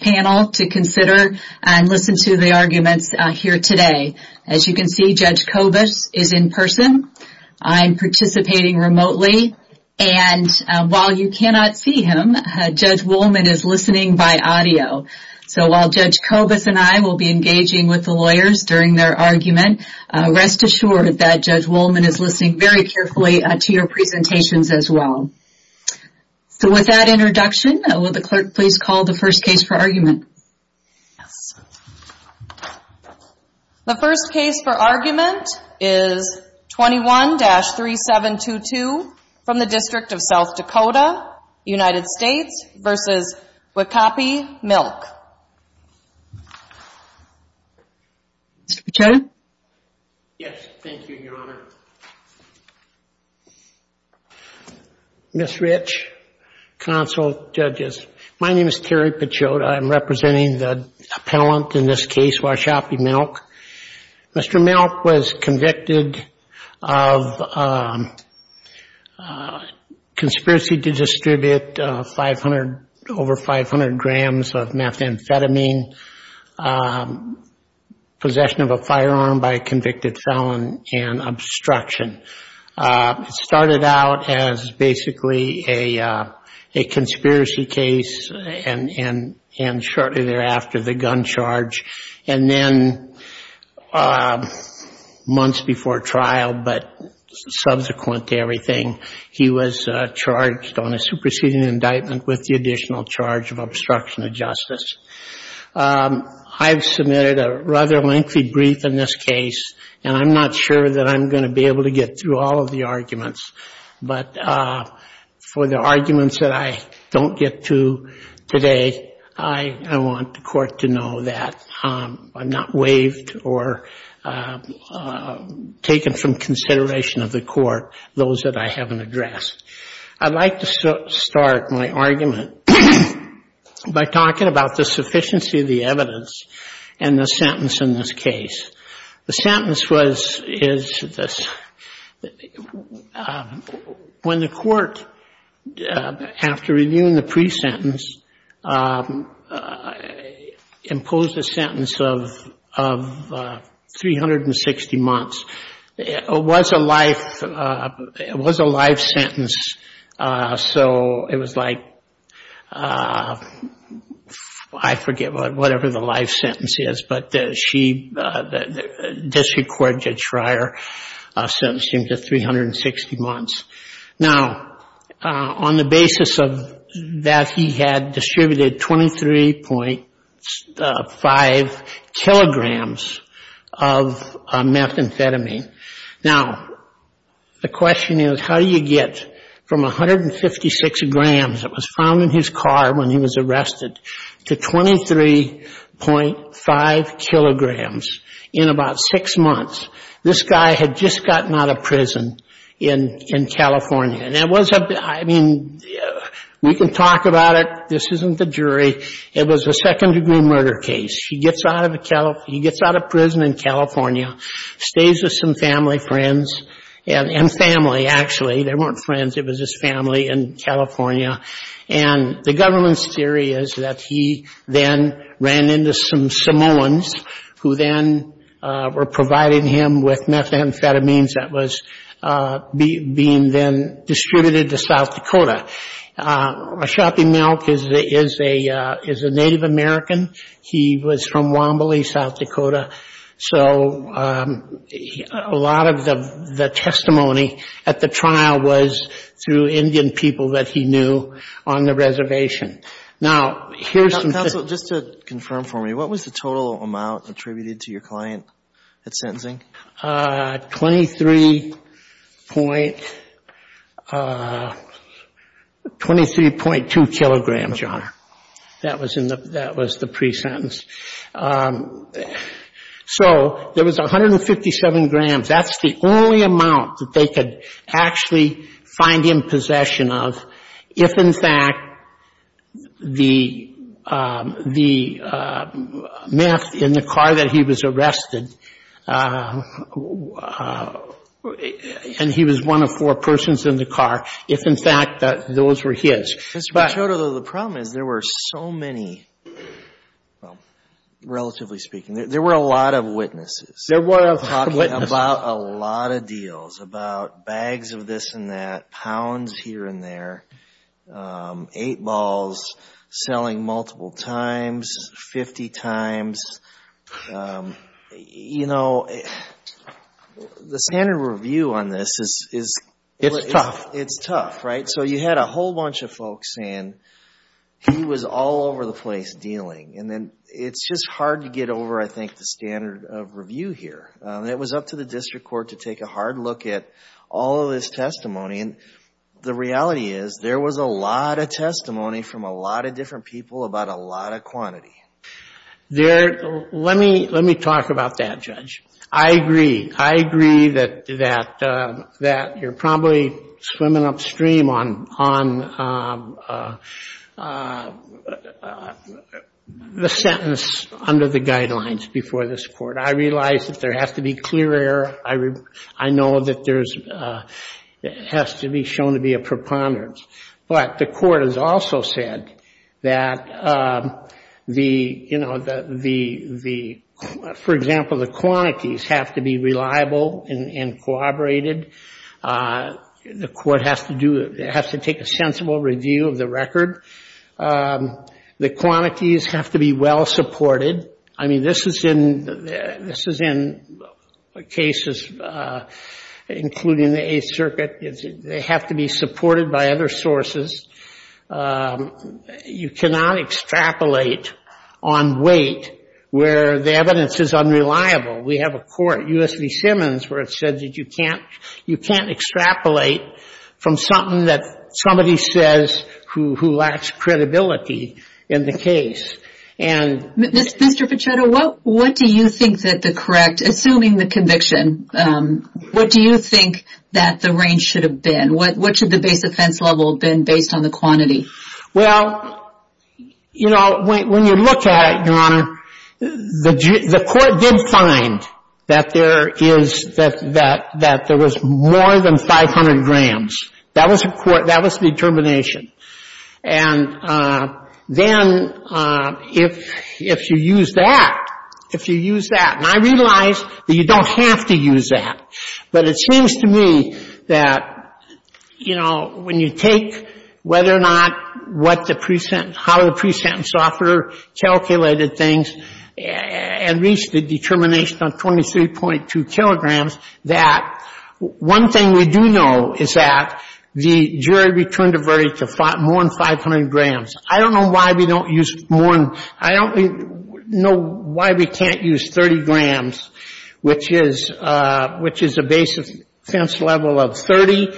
panel to consider and listen to the arguments here today. As you can see, Judge Kobus is in person. I'm participating remotely, and while you cannot see him, Judge Woolman is listening by audio. So while Judge Kobus and I will be engaging with the lawyers during their argument, rest assured that Judge Woolman is listening very carefully to your presentations as well. So with that introduction, will the clerk please call the first case for argument. The first case for argument is 21-3722 from the District of South Dakota, United States, versus Wicahpe Milk. Ms. Rich, Counsel, Judges, my name is Terry Pachoda. I'm representing the appellant in this case, Wicahpe Milk. Mr. Milk was convicted of conspiracy to distribute 500, over 500 grams of methamphetamine, possession of a firearm by a convicted felon, and obstruction. It started out as basically a conspiracy case, and shortly thereafter, the gun charge, and then months before trial, but subsequent to everything, he was charged on a superseding indictment with the additional charge of obstruction of justice. I've submitted a rather lengthy brief in this case, and I'm not sure that I'm going to be able to get through all of the arguments, but for the arguments that I don't get to today, I want the court to know that I'm not waived or taken from consideration of the court, those that I haven't addressed. I'd like to start my argument by talking about the sufficiency of the evidence, and the sentence in this case. The sentence was, is this, when the court, after reviewing the pre-sentence, imposed a sentence of 360 months. It was a life, it was a life sentence, so it was like I forget what, whatever the life sentence is, but she, this court judge Schreier sentenced him to 360 months. Now, on the basis of that, he had distributed 23.5 kilograms of methamphetamine. Now, the question is, how do you get from 156 grams, it was found in his car when he was arrested, to 23.5 kilograms in about six months? This guy had just gotten out of prison in California, and it was, I mean, we can talk about it, this isn't the jury, it was a second degree murder case. He gets out of prison in California, stays with some family friends, and family, actually, they weren't friends, it was his family in California, and the government's theory is that he then ran into some Samoans, who then were providing him with methamphetamines that was being then distributed to South Dakota. Ashapi Milk is a Native American, he was from Wombly, South Dakota, and the testimony at the trial was through Indian people that he knew on the reservation. Now, here's the thing. Counsel, just to confirm for me, what was the total amount attributed to your client at sentencing? 23.2 kilograms, Your Honor. That was the pre-sentence. So, there was 157 grams, that's the only amount that they could actually find him possession of, if, in fact, the meth in the car that he was arrested, and he was one of four persons in the car, if, in fact, those were his. Mr. Machado, though, the problem is there were so many, well, relatively speaking, there were a lot of details about bags of this and that, pounds here and there, eight balls, selling multiple times, 50 times. You know, the standard review on this is tough, right? So, you had a whole bunch of folks, and he was all over the place dealing, and then it's just hard to get over, I think, the standard of review here. It was up to the district court to take a hard look at all of this testimony, and the reality is there was a lot of testimony from a lot of different people about a lot of quantity. Let me talk about that, Judge. I agree. I agree that you're probably swimming upstream on the sentence under the I know that there's, it has to be shown to be a preponderance, but the court has also said that the, you know, the, for example, the quantities have to be reliable and corroborated. The court has to do, has to take a sensible review of the cases, including the Eighth Circuit. They have to be supported by other sources. You cannot extrapolate on weight where the evidence is unreliable. We have a court, U.S. v. Simmons, where it said that you can't, you can't extrapolate from something that somebody says who lacks credibility in the case, and Mr. Pichetto, what do you think that the correct, assuming the conviction, what do you think that the range should have been? What should the base offense level have been based on the quantity? Well, you know, when you look at it, Your Honor, the court did find that there is, that there was more than 500 grams. That was the determination. And then if you use that, if you use that, and I realize that you don't have to use that, but it seems to me that, you know, when you take whether or not what the, how the pre-sentence author calculated things and reached the determination on 23.2 kilograms, that one thing we do know is that the jury returned a verdict of more than 500 grams. I don't know why we don't use more than, I don't know why we can't use 30 grams, which is a base offense level of 30.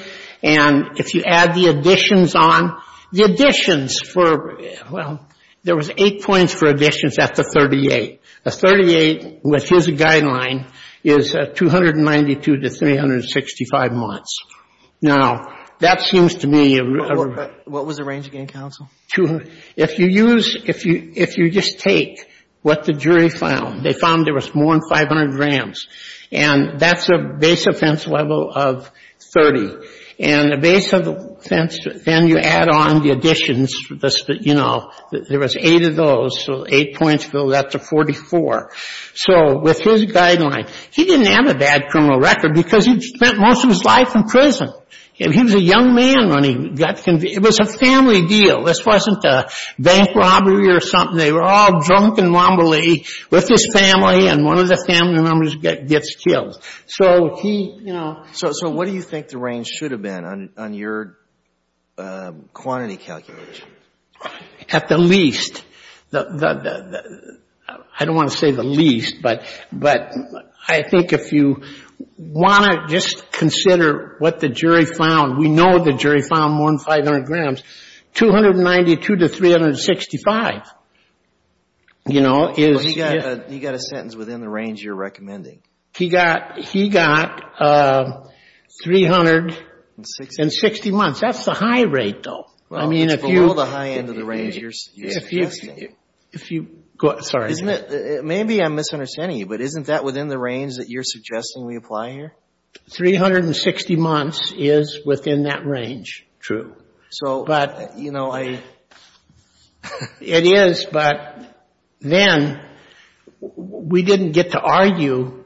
And if you add the additions on, the additions for, well, there was eight points for additions at the 38. A 38, which is a guideline, is 292 to 365 months. Now, that seems to me... What was the range again, counsel? If you use, if you just take what the jury found, they found there was more than 500 grams. And that's a base offense level of 30. And the base offense, then you add on the additions, you know, there was eight of those, so eight points, so that's a 44. So with his guideline, he didn't have a bad criminal record because he'd spent most of his life in prison. He was a young man when he got convicted. It was a family deal. This wasn't a bank robbery or something. They were all drunk and wombly with his family, and one of the family members gets killed. So he, you know... So what do you think the range should have been on your quantity calculation? At the least, I don't want to say the least, but I think if you want to just consider what the jury found, we know the jury found more than 500 grams, 292 to 365, you know, is... He got a sentence within the range you're recommending. He got 360 months. That's a high rate, though. I mean, if you... It's below the high end of the range you're suggesting. If you... Sorry. Maybe I'm misunderstanding you, but isn't that within the range that you're suggesting we apply here? 360 months is within that range, true. So, you know, I... It is, but then we didn't get to argue,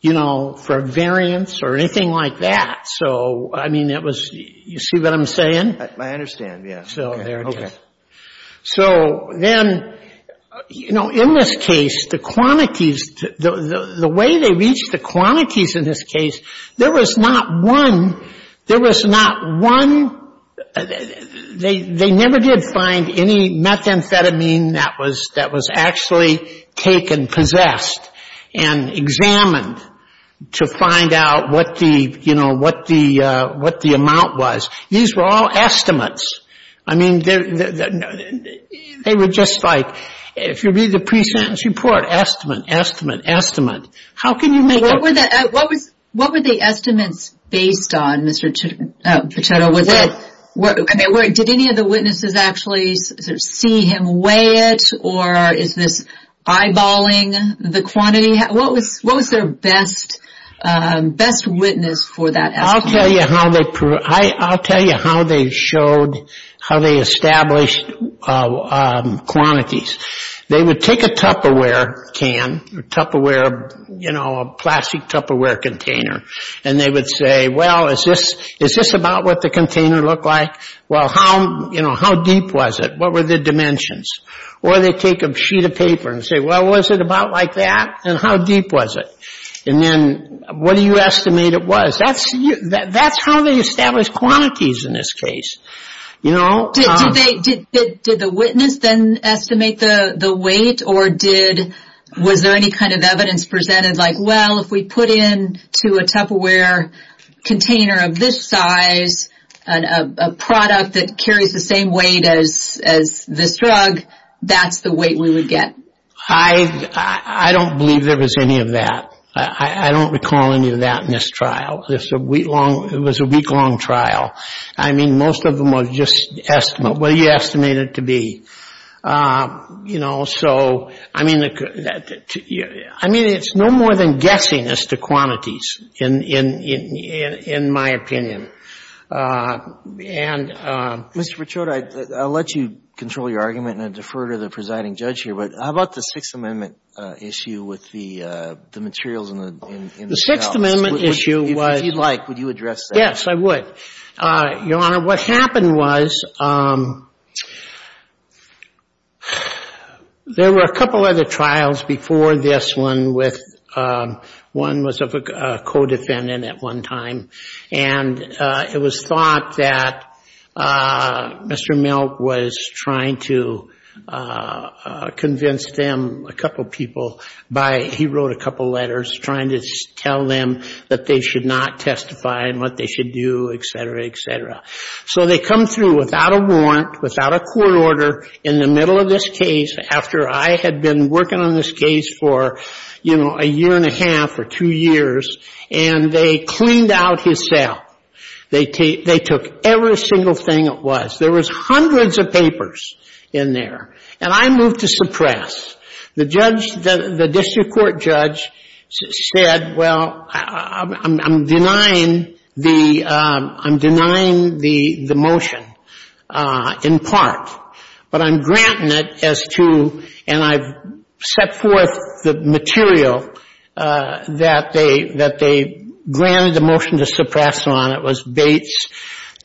you know, for variance or anything like that. So, I mean, it was... You see what I'm saying? I understand, yes. So there it is. Okay. So then, you know, in this case, the quantities, the way they reached the quantities in this case, there was not one, there was not one... They never did find any methamphetamine that was actually taken, possessed, and examined to find out what the, you know, what the amount was. These were all estimates. I mean, they were just like, if you read the pre-sentence report, estimate, estimate, estimate. How can you make... What were the estimates based on, Mr. Pichetto? Was it... I mean, did any of the witnesses actually see him weigh it, or is this eyeballing the quantity? What was their best witness for that estimate? I'll tell you how they proved... I'll tell you how they showed, how they established quantities. They would take a Tupperware can, Tupperware, you know, a plastic Tupperware container, and they would say, well, is this about what the container looked like? Well, how, you know, how deep was it? What were the dimensions? Or they'd take a sheet of paper and say, well, was it about like that? And how deep was it? And then, what do you estimate it was? That's how they established quantities in this case, you know? Did the witness then estimate the weight, or did... Was there any kind of evidence presented like, well, if we put in to a Tupperware container of this size, a product that carries the same weight as this drug, that's the weight we would get? I don't believe there was any of that. I don't recall any of that in this trial. It's a week-long... It was a week-long trial. I mean, most of them were just estimate. What do you estimate it to be? You know, so, I mean... I mean, it's no more than guessing as to quantities, in my opinion. And... Mr. Verchota, I'll let you control your argument, and I defer to the presiding judge here, but how about the Sixth Amendment issue with the materials in the... The Sixth Amendment issue was... If you'd like, would you address that? Yes, I would. Your Honor, what happened was... There were a couple other trials before this one with... One was of a co-defendant at one time, and it was thought that Mr. Milk was trying to convince them, a couple people, by... He wrote a couple letters trying to tell them that they should not testify and what they should do, et cetera, et cetera. So they come through without a warrant, without a court order, in the middle of this case, after I had been working on this case for, you know, a year and a half or two years, and they cleaned out his cell. They took every single thing it was. There was hundreds of papers in there, and I moved to suppress. The district court judge said, well, I'm denying the motion, in part, but I'm granting it as to... The material that they granted the motion to suppress on, it was Bates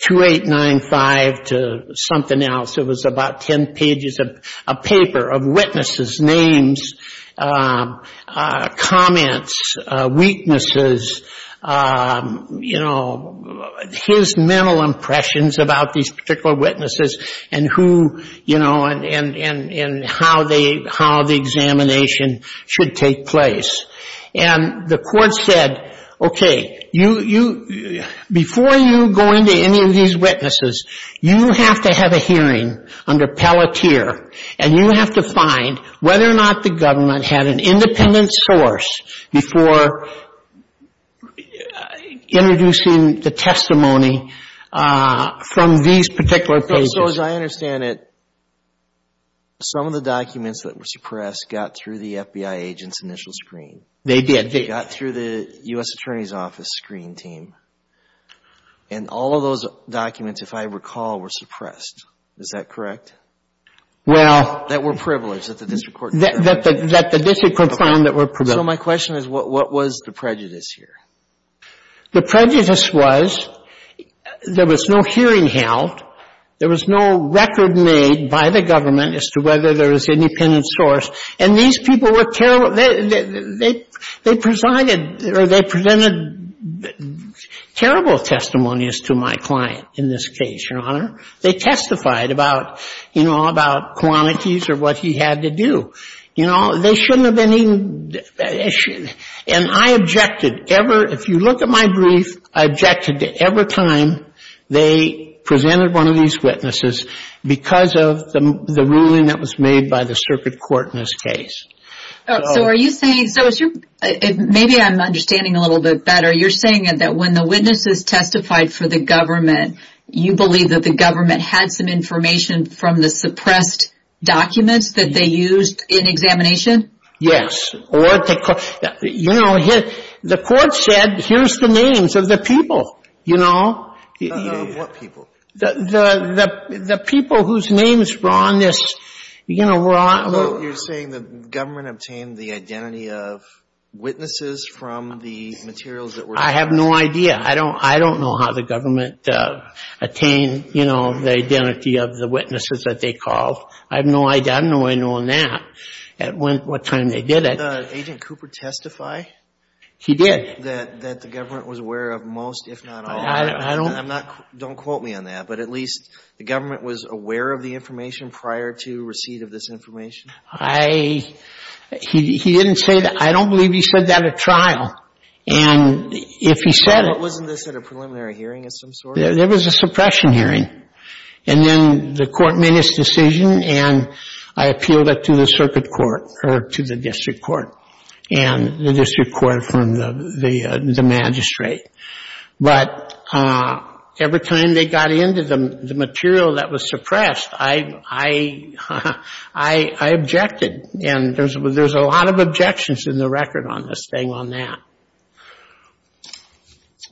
2895 to something else. It was about 10 pages of paper of witnesses' names, comments, weaknesses, you know, his mental impressions about these particular witnesses, and who, you know, and how the examination should take place. And the court said, okay, before you go into any of these witnesses, you have to have a hearing under Pelletier, and you have to find whether or not the government had an independent source before introducing the testimony from these particular pages. So, as I understand it, some of the documents that were suppressed got through the FBI agent's initial screen. They did. They got through the U.S. Attorney's Office screen team, and all of those documents, if I recall, were suppressed. Is that correct? Well... That the district court found that were privileged. So my question is, what was the prejudice here? The prejudice was, there was no hearing held. There was no record made by the government as to whether there was an independent source. And these people were terrible. They presided, or they presented terrible testimonies to my client in this case, Your Honor. They testified about, you know, about quantities or what he had to do. You know, they shouldn't have been even... And I objected ever, if you look at my brief, I objected to every time they presented one of these witnesses because of the ruling that was made by the circuit court in this case. So are you saying, so is your... Maybe I'm understanding a little bit better. You're saying that when the witnesses testified for the government, you believe that the government had some information from the suppressed documents that they used in examination? Yes. Or, you know, the court said, here's the names of the people, you know? Of what people? The people whose names were on this, you know, were on... Well, you're saying the government obtained the identity of witnesses from the materials that were... I have no idea. I don't know how the government attained, you know, the identity of the witnesses that they called. I have no idea. I don't know any more than that at what time they did it. Did Agent Cooper testify? He did. That the government was aware of most, if not all? I don't... I'm not... Don't quote me on that. But at least the government was aware of the information prior to receipt of this information? I... He didn't say that. I don't believe he said that at trial. And if he said it... But wasn't this at a preliminary hearing of some sort? It was a suppression hearing. And then the court made its decision, and I appealed it to the circuit court, or to the district court, and the district court from the magistrate. But every time they got into the material that was suppressed, I objected. And there's a lot of objections in the record on this thing, on that.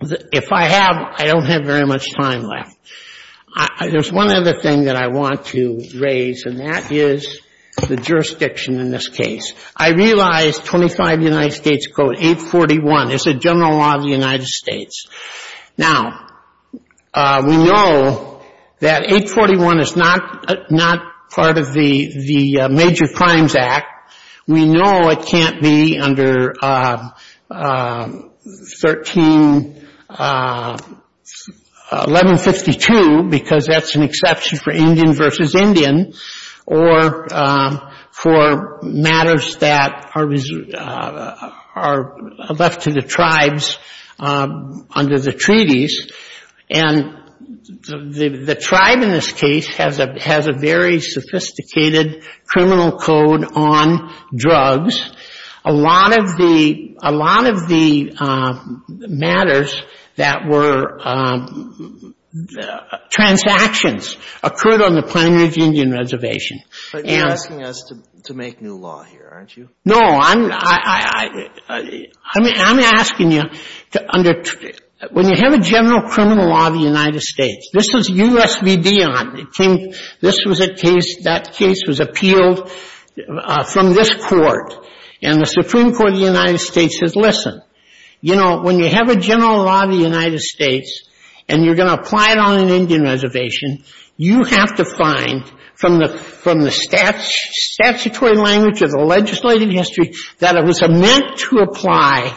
If I have, I don't have very much time left. There's one other thing that I want to raise, and that is the jurisdiction in this case. I realize 25 United States Code 841 is a general law of the United States. Now, we know that 841 is not part of the Major Crimes Act. We know it can't be under 13, 1152, because that's an exception for Indian versus Indian, or for matters that are left to the tribes under the treaties. And the tribe in this case has a very sophisticated criminal code on drugs. A lot of the matters that were transactions occurred on the Planning of the Indian Reservation. But you're asking us to make new law here, aren't you? No, I'm asking you to under, when you have a general criminal law of the United States, this is U.S. v. Dion. It came, this was a case, that case was appealed from this court. And the Supreme Court of the United States says, listen, you know, when you have a general law of the United States, and you're going to apply it on an Indian reservation, you have to find from the statutory language of the legislative history that it was meant to apply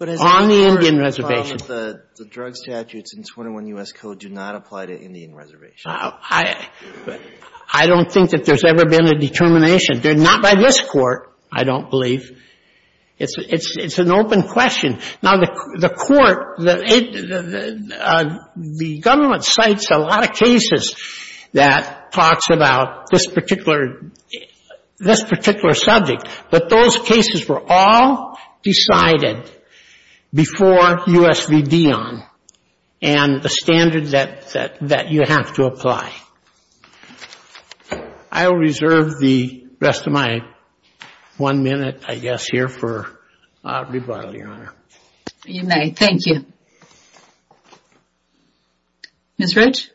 on the Indian reservation. The drug statutes in 21 U.S. Code do not apply to Indian reservations. I don't think that there's ever been a determination. They're not by this court, I don't believe. It's an open question. Now, the court, the government cites a lot of cases that talks about this particular subject. But those cases were all decided before U.S. v. Dion. And the standard that you have to apply. I will reserve the rest of my one minute, I guess, here for rebuttal, Your Honor. You may. Thank you. Ms. Ridge?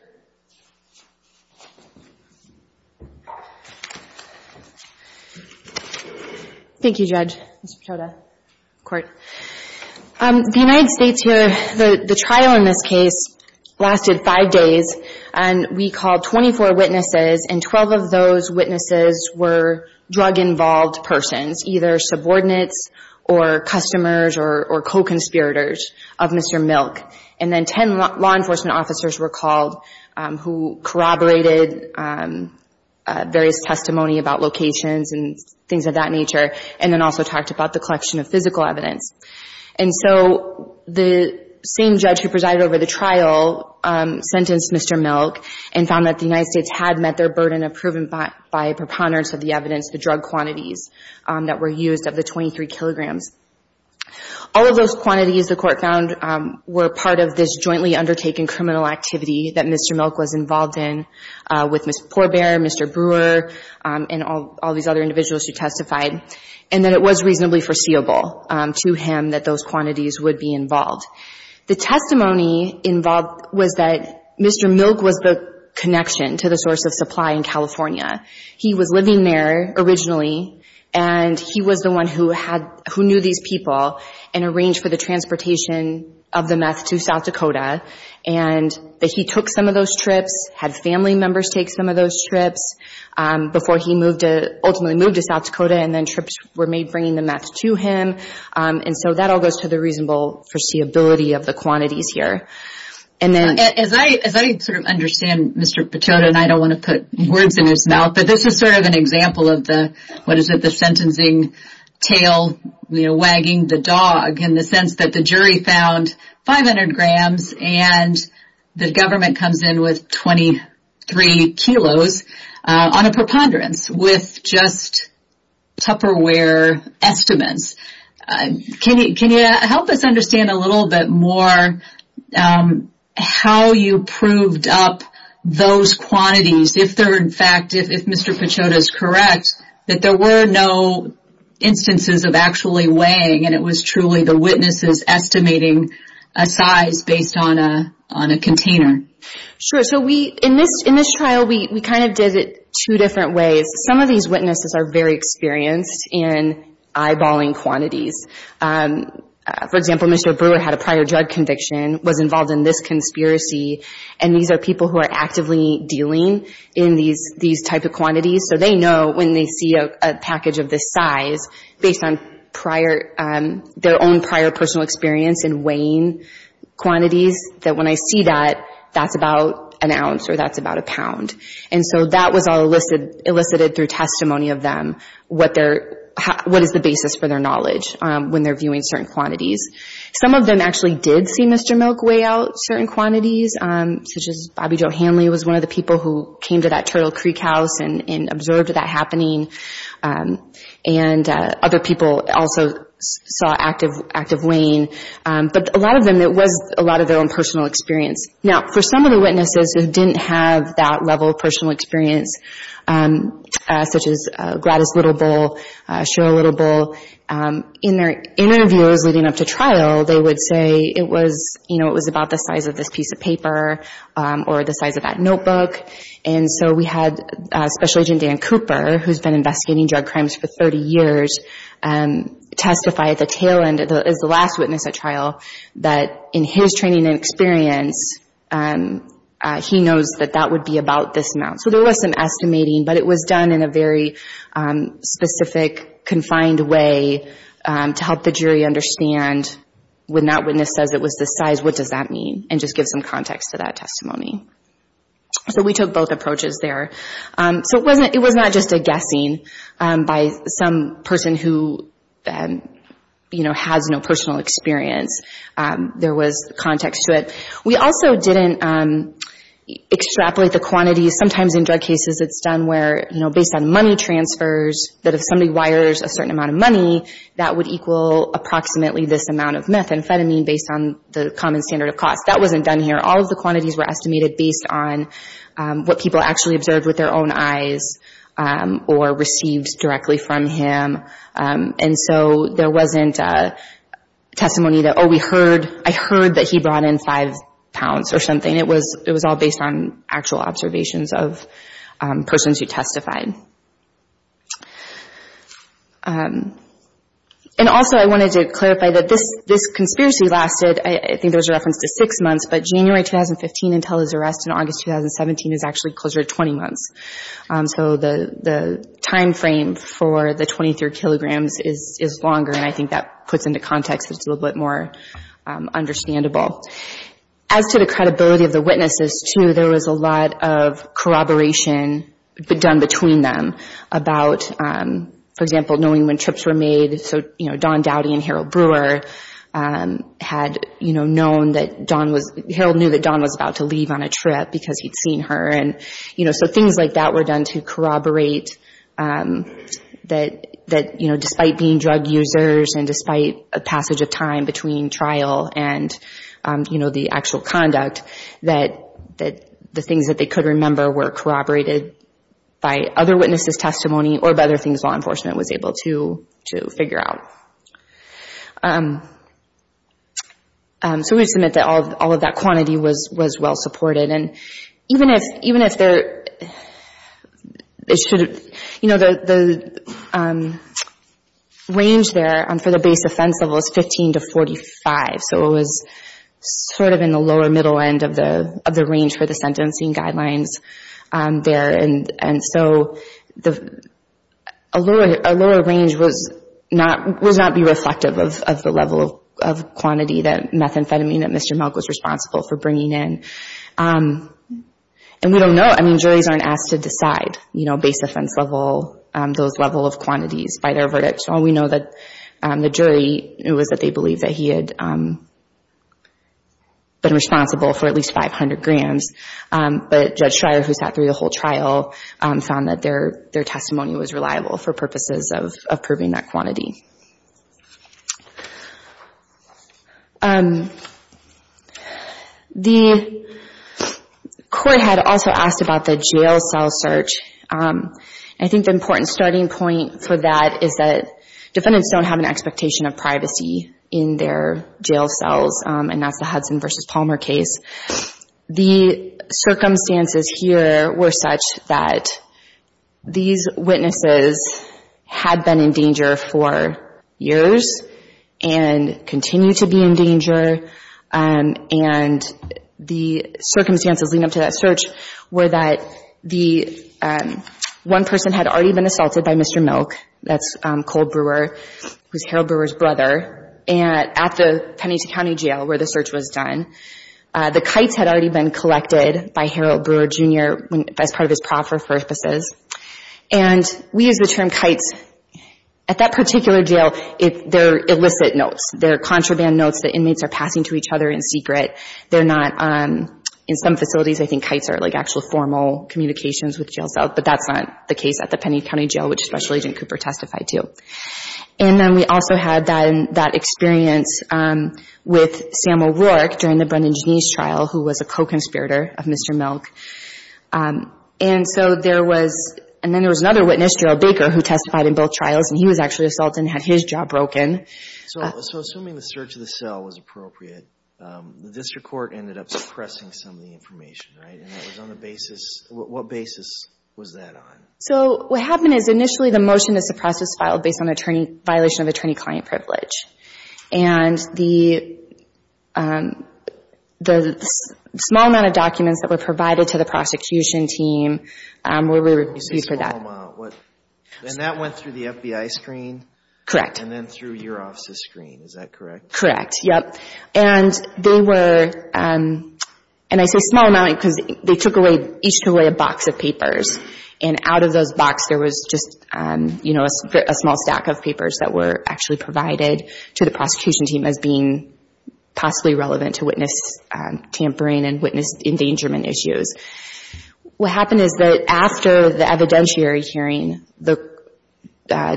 Thank you, Judge, Mr. Picciotto, court. The United States here, the trial in this case lasted five days. And we called 24 witnesses, and 12 of those witnesses were drug-involved persons, either subordinates or customers or co-conspirators of Mr. Milk. And then 10 law enforcement officers were called who corroborated various testimony about locations and things of that nature. And then also talked about the collection of physical evidence. And so, the same judge who presided over the trial sentenced Mr. Milk and found that the United States had met their burden of proven by preponderance of the evidence, the drug quantities that were used of the 23 kilograms. All of those quantities, the court found, were part of this jointly undertaken criminal activity that Mr. Milk was involved in with Ms. Pourbaix, Mr. Brewer, and all these other individuals who testified. And that it was reasonably foreseeable to him that those quantities would be involved. The testimony involved was that Mr. Milk was the connection to the source of supply in California. He was living there originally, and he was the one who knew these people and arranged for the transportation of the meth to South Dakota. And that he took some of those trips, had family members take some of those trips before he ultimately moved to South Dakota. And then trips were made bringing the meth to him. And so, that all goes to the reasonable foreseeability of the quantities here. And then... As I sort of understand Mr. Pachauda, and I don't want to put words in his mouth, but this is sort of an example of the, what is it, the sentencing tail wagging the dog in the sense that the jury found 500 grams and the government comes in with 23 kilos on a preponderance with just Tupperware estimates. Can you help us understand a little bit more how you proved up those quantities if they're in fact, if Mr. Pachauda is correct, that there were no instances of actually weighing and it was truly the witnesses estimating a size based on a container? Sure, so we, in this trial, we kind of did it two different ways. Some of these witnesses are very experienced in eyeballing quantities. For example, Mr. Brewer had a prior drug conviction, was involved in this conspiracy, and these are people who are actively dealing in these type of quantities. So they know when they see a package of this size based on prior, their own prior personal experience in weighing quantities, that when I see that, that's about an ounce or that's about a pound. And so that was all elicited through testimony of them, what is the basis for their knowledge when they're viewing certain quantities. Some of them actually did see Mr. Milk weigh out certain quantities, such as Bobby Joe Hanley was one of the people who came to that Turtle Creek house and observed that happening. And other people also saw active weighing. But a lot of them, it was a lot of their own personal experience. Now, for some of the witnesses who didn't have that level of personal experience, such as Gladys Little Bull, Cheryl Little Bull, in their interviews leading up to trial, they would say it was, about the size of this piece of paper or the size of that notebook. And so we had Special Agent Dan Cooper, who's been investigating drug crimes for 30 years, testify at the tail end, as the last witness at trial, that in his training and experience, he knows that that would be about this amount. So there was some estimating, but it was done in a very specific, confined way to help the jury understand, when that witness says it was this size, what does that mean? And just give some context to that testimony. So we took both approaches there. So it was not just a guessing by some person who has no personal experience. There was context to it. We also didn't extrapolate the quantities. Sometimes in drug cases, it's done where, based on money transfers, that if somebody wires a certain amount of money, that would equal approximately this amount of methamphetamine, based on the common standard of cost. That wasn't done here. All of the quantities were estimated based on what people actually observed with their own eyes, or received directly from him. And so there wasn't a testimony that, oh, we heard, I heard that he brought in five pounds or something. It was all based on actual observations of persons who testified. And also, I wanted to clarify that this conspiracy lasted, I think there was a reference to six months, but January 2015 until his arrest in August 2017 is actually closer to 20 months. So the timeframe for the 23 kilograms is longer, and I think that puts into context that it's a little bit more understandable. As to the credibility of the witnesses, too, there was a lot of corroboration done between them about, for example, knowing when trips were made. So, you know, Don Dowdy and Harold Brewer had, you know, known that Don was, Harold knew that Don was about to leave on a trip because he'd seen her. And, you know, so things like that were done to corroborate that, you know, despite being drug users and despite a passage of time between trial and, you know, the actual conduct, that the things that they could remember were corroborated by other witnesses' testimony or by other things law enforcement was able to figure out. So we submit that all of that quantity was well supported. And even if there, it should, you know, the range there for the base offense level is 15 to 45. So it was sort of in the lower middle end of the range for the sentencing guidelines there. And so a lower range was not, would not be reflective of the level of quantity that methamphetamine that Mr. Milk was responsible for bringing in. And we don't know. I mean, juries aren't asked to decide, you know, base offense level, those level of quantities by their verdicts. All we know that the jury, it was that they believed that he had been responsible for at least 500 grams. But Judge Schreyer, who sat through the whole trial, found that their testimony was reliable for purposes of proving that quantity. The court had also asked about the jail cell search. I think the important starting point for that is that defendants don't have an expectation of privacy in their jail cells, and that's the Hudson v. Palmer case. The circumstances here were such that these witnesses had been in danger for years and continue to be in danger. And the circumstances leading up to that search were that the one person had already been assaulted by Mr. Milk, that's Cole Brewer, who's Harold Brewer's brother, at the Pennington County Jail where the search was done. The kites had already been collected by Harold Brewer Jr. as part of his proffer for purposes. And we use the term kites. At that particular jail, they're illicit notes. They're contraband notes that inmates are passing to each other in secret. They're not, in some facilities, I think kites are like actual formal communications with jail cells, but that's not the case at the Pennington County Jail, which Special Agent Cooper testified to. And then we also had that experience with Sam O'Rourke during the Brendan Jenise trial, who was a co-conspirator of Mr. Milk. And so there was, and then there was another witness, Gerald Baker, who testified in both trials, and he was actually assaulted and had his jaw broken. So assuming the search of the cell was appropriate, the district court ended up suppressing some of the information, right? And that was on the basis, what basis was that on? So what happened is initially the motion to suppress was filed based on violation of attorney-client privilege. And the small amount of documents that were provided to the prosecution team were used for that. And that went through the FBI screen? Correct. And then through your office's screen, is that correct? Correct, yep. And they were, and I say small amount because they took away, each took away a box of papers. And out of those box, there was just, you know, a small stack of papers that were actually provided to the prosecution team as being possibly relevant to witness tampering and witness endangerment issues. What happened is that after the evidentiary hearing, the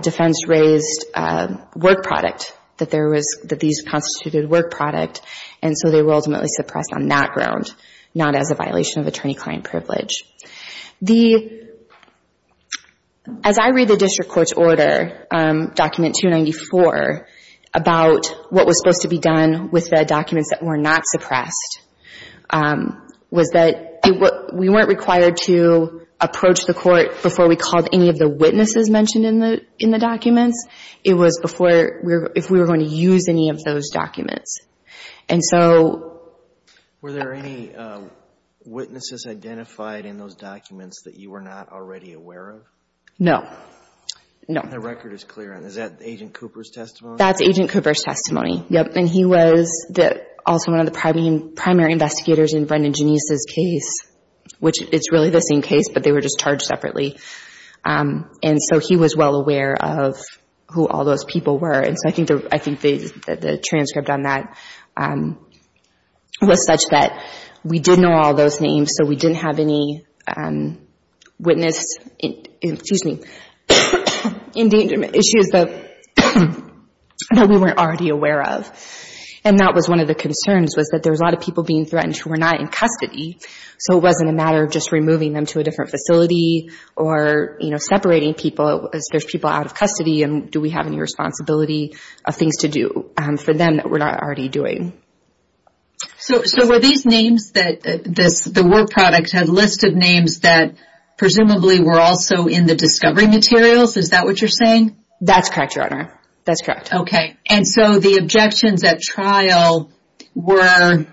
defense raised work product, that there was, that these constituted work product. And so they were ultimately suppressed on that ground, not as a violation of attorney-client privilege. The, as I read the district court's order, document 294, about what was supposed to be done with the documents that were not suppressed, was that we weren't required to approach the court before we called any of the witnesses mentioned in the documents. It was before, if we were going to use any of those documents. And so... Were there any witnesses identified in those documents that you were not already aware of? No, no. The record is clear. Is that Agent Cooper's testimony? That's Agent Cooper's testimony, yep. And he was also one of the primary investigators in Brendan Genise's case, which it's really the same case, but they were just charged separately. And so he was well aware of who all those people were. And so I think the, I think the transcript on that was such that we did know all those names, so we didn't have any witness, excuse me, endangerment issues that we weren't already aware of. And that was one of the concerns, was that there was a lot of people being threatened who were not in custody. So it wasn't a matter of just removing them to a different facility or, you know, separating people. There's people out of custody, and do we have any responsibility of things to do for them that we're not already doing? So were these names that this, the work product had listed names that presumably were also in the discovery materials? Is that what you're saying? That's correct, Your Honor. That's correct. Okay. And so the objections at trial were,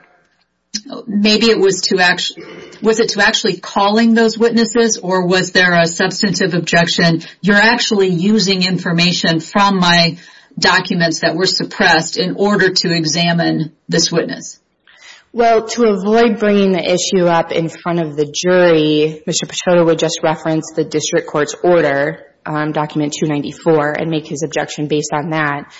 maybe it was to actually, was it to actually calling those witnesses, or was there a substantive objection? You're actually using information from my documents that were suppressed in order to examine this witness. Well, to avoid bringing the issue up in front of the jury, Mr. Petrotta would just reference the district court's order, document 294, and make his objection based on that,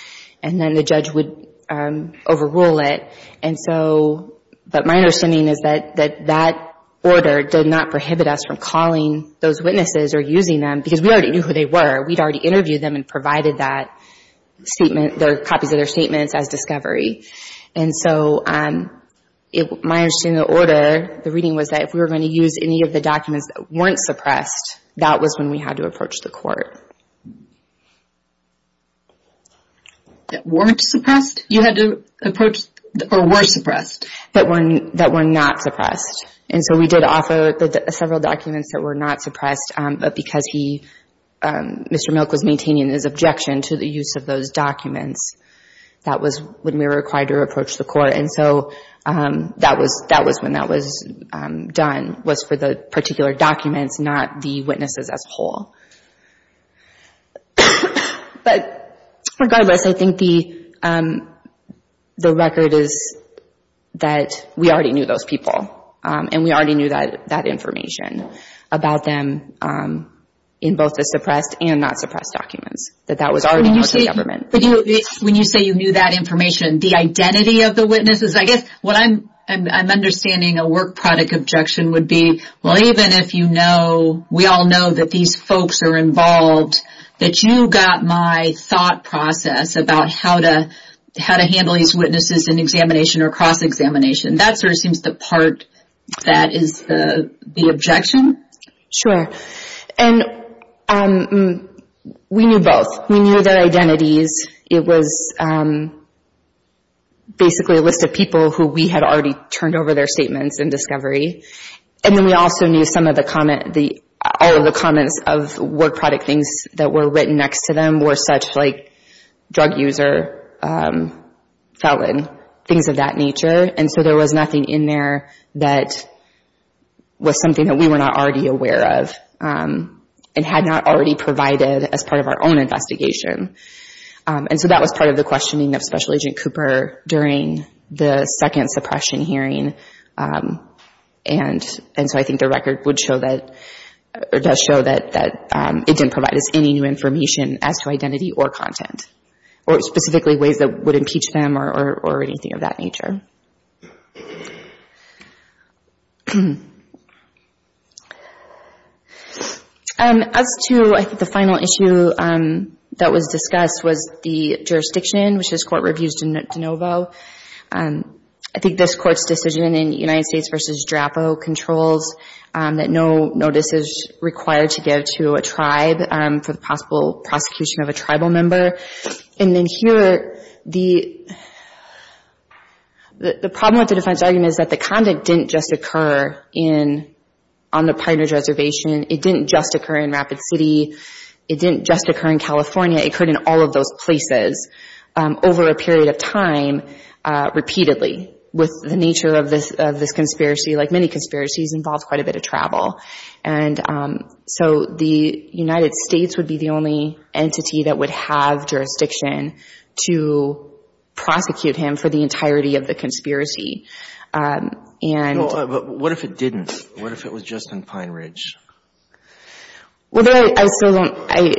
and then the judge would overrule it. And so, but my understanding is that that order did not prohibit us from calling those witnesses or using them, because we already knew who they were. We'd already interviewed them and provided that statement, the copies of their statements as discovery. And so my understanding of the order, the reading was that if we were going to use any of the documents that weren't suppressed, that was when we had to approach the court. That weren't suppressed? You had to approach, or were suppressed? That were not suppressed. And so we did offer several documents that were not suppressed, but because he, Mr. Milk was maintaining his objection to the use of those documents, that was when we were required to approach the court. And so that was when that was done, was for the particular documents, not the witnesses as a whole. But regardless, I think the record is that we already knew those people, and we already knew that information about them in both the suppressed and not suppressed documents. That that was already known to the government. When you say you knew that information, the identity of the witnesses, I guess what I'm understanding a work product objection would be, well even if you know, we all know that these folks are involved, that you got my thought process about how to handle these witnesses in examination or cross-examination. And that sort of seems the part that is the objection? Sure. And we knew both. We knew their identities. It was basically a list of people who we had already turned over their statements in discovery. And then we also knew some of the comment, all of the comments of work product things that were written next to them were such like drug user, felon, things of that nature. And so there was nothing in there that was something that we were not already aware of, and had not already provided as part of our own investigation. And so that was part of the questioning of Special Agent Cooper during the second suppression hearing. And so I think the record would show that, or does show that it didn't provide us any new information as to identity or content, or specifically ways that would impeach them or anything of that nature. As to, I think the final issue that was discussed was the jurisdiction, which this court reviews de novo. I think this court's decision in United States v. DRAPO controls that no notice is required to give to a tribe for the possible prosecution of a tribal member. And then here, the problem with the defense argument is that the conduct didn't just occur on the Pine Ridge Reservation. It didn't just occur in Rapid City. It didn't just occur in California. It occurred in all of those places over a period of time, repeatedly, with the nature of this conspiracy, like many conspiracies, involves quite a bit of travel. And so the United States would be the only entity that would have jurisdiction to prosecute him for the entirety of the conspiracy. And... But what if it didn't? What if it was just in Pine Ridge? Well, I still don't, I,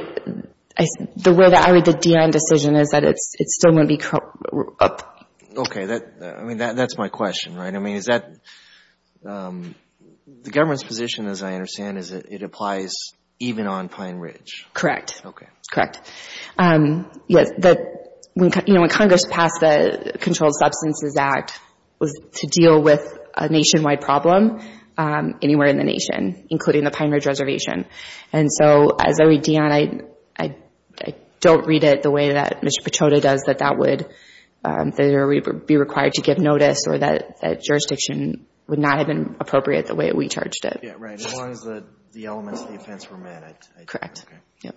the way that I read the Deion decision is that it still wouldn't be up. Okay, that, I mean, that's my question, right? I mean, is that, the government's position, as I understand, is that it applies even on Pine Ridge? Correct. Okay. Correct. Yes, the, you know, when Congress passed the Controlled Substances Act, was to deal with a nationwide problem anywhere in the nation, including the Pine Ridge Reservation. And so, as I read Deion, I don't read it the way that Mr. Pechota does, that that would, that it would be required to give notice, or that jurisdiction would not have been appropriate the way that we charged it. Yeah, right, as long as the elements of the offense were met, I think. Correct. Okay. Yep.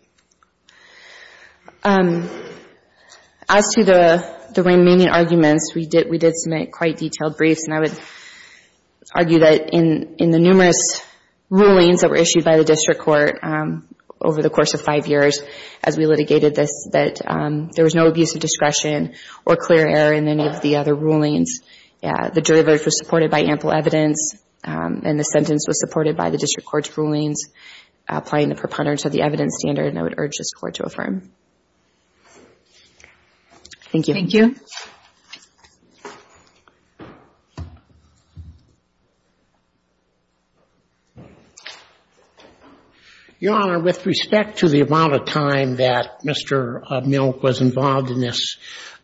As to the remaining arguments, we did submit quite detailed briefs, and I would argue that in the numerous rulings that were issued by the district court over the course of five years as we litigated this, that there was no abuse of discretion or clear error in any of the other rulings. Yeah, the jury verdict was supported by ample evidence, and the sentence was supported by the district court's rulings, applying the preponderance of the evidence standard, and I would urge this court to affirm. Thank you. Thank you. Your Honor, with respect to the amount of time that Mr. Milk was involved in this,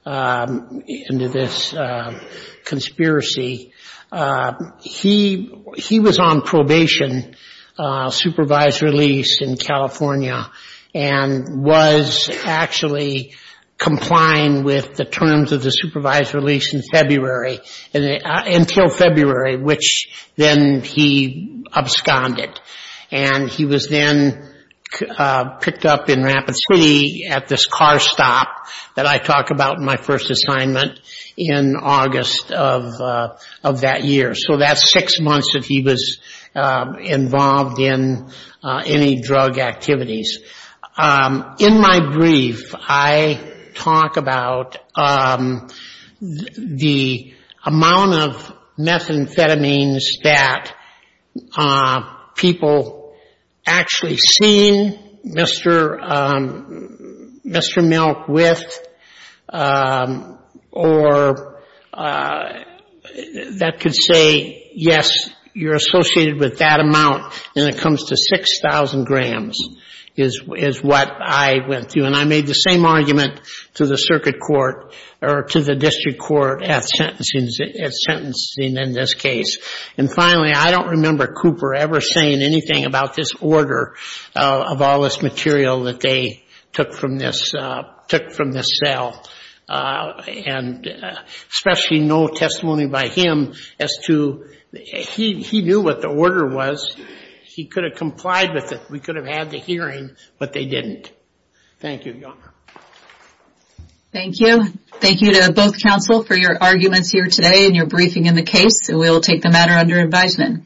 into this conspiracy, he, he was on probation, supervised release in California, and was actually complying with the terms of the supervised release in February, until February, which then he absconded. And he was then picked up in Rapid City at this car stop that I talk about in my first assignment in August of that year. So that's six months that he was involved in any drug activities. In my brief, I talk about the amount of methamphetamines that people actually seen Mr. Milk with, or that could say, yes, you're associated with that amount, and it comes to 6,000 grams, is what I went through. And I made the same argument to the circuit court, or to the district court at sentencing in this case. And finally, I don't remember Cooper ever saying anything about this order of all this material that they took from this, took from this cell. And especially no testimony by him as to, he knew what the order was. He could have complied with it. We could have had the hearing, but they didn't. Thank you, Your Honor. Thank you. Thank you to both counsel for your arguments here today, and your briefing in the case. We'll take the matter under advisement.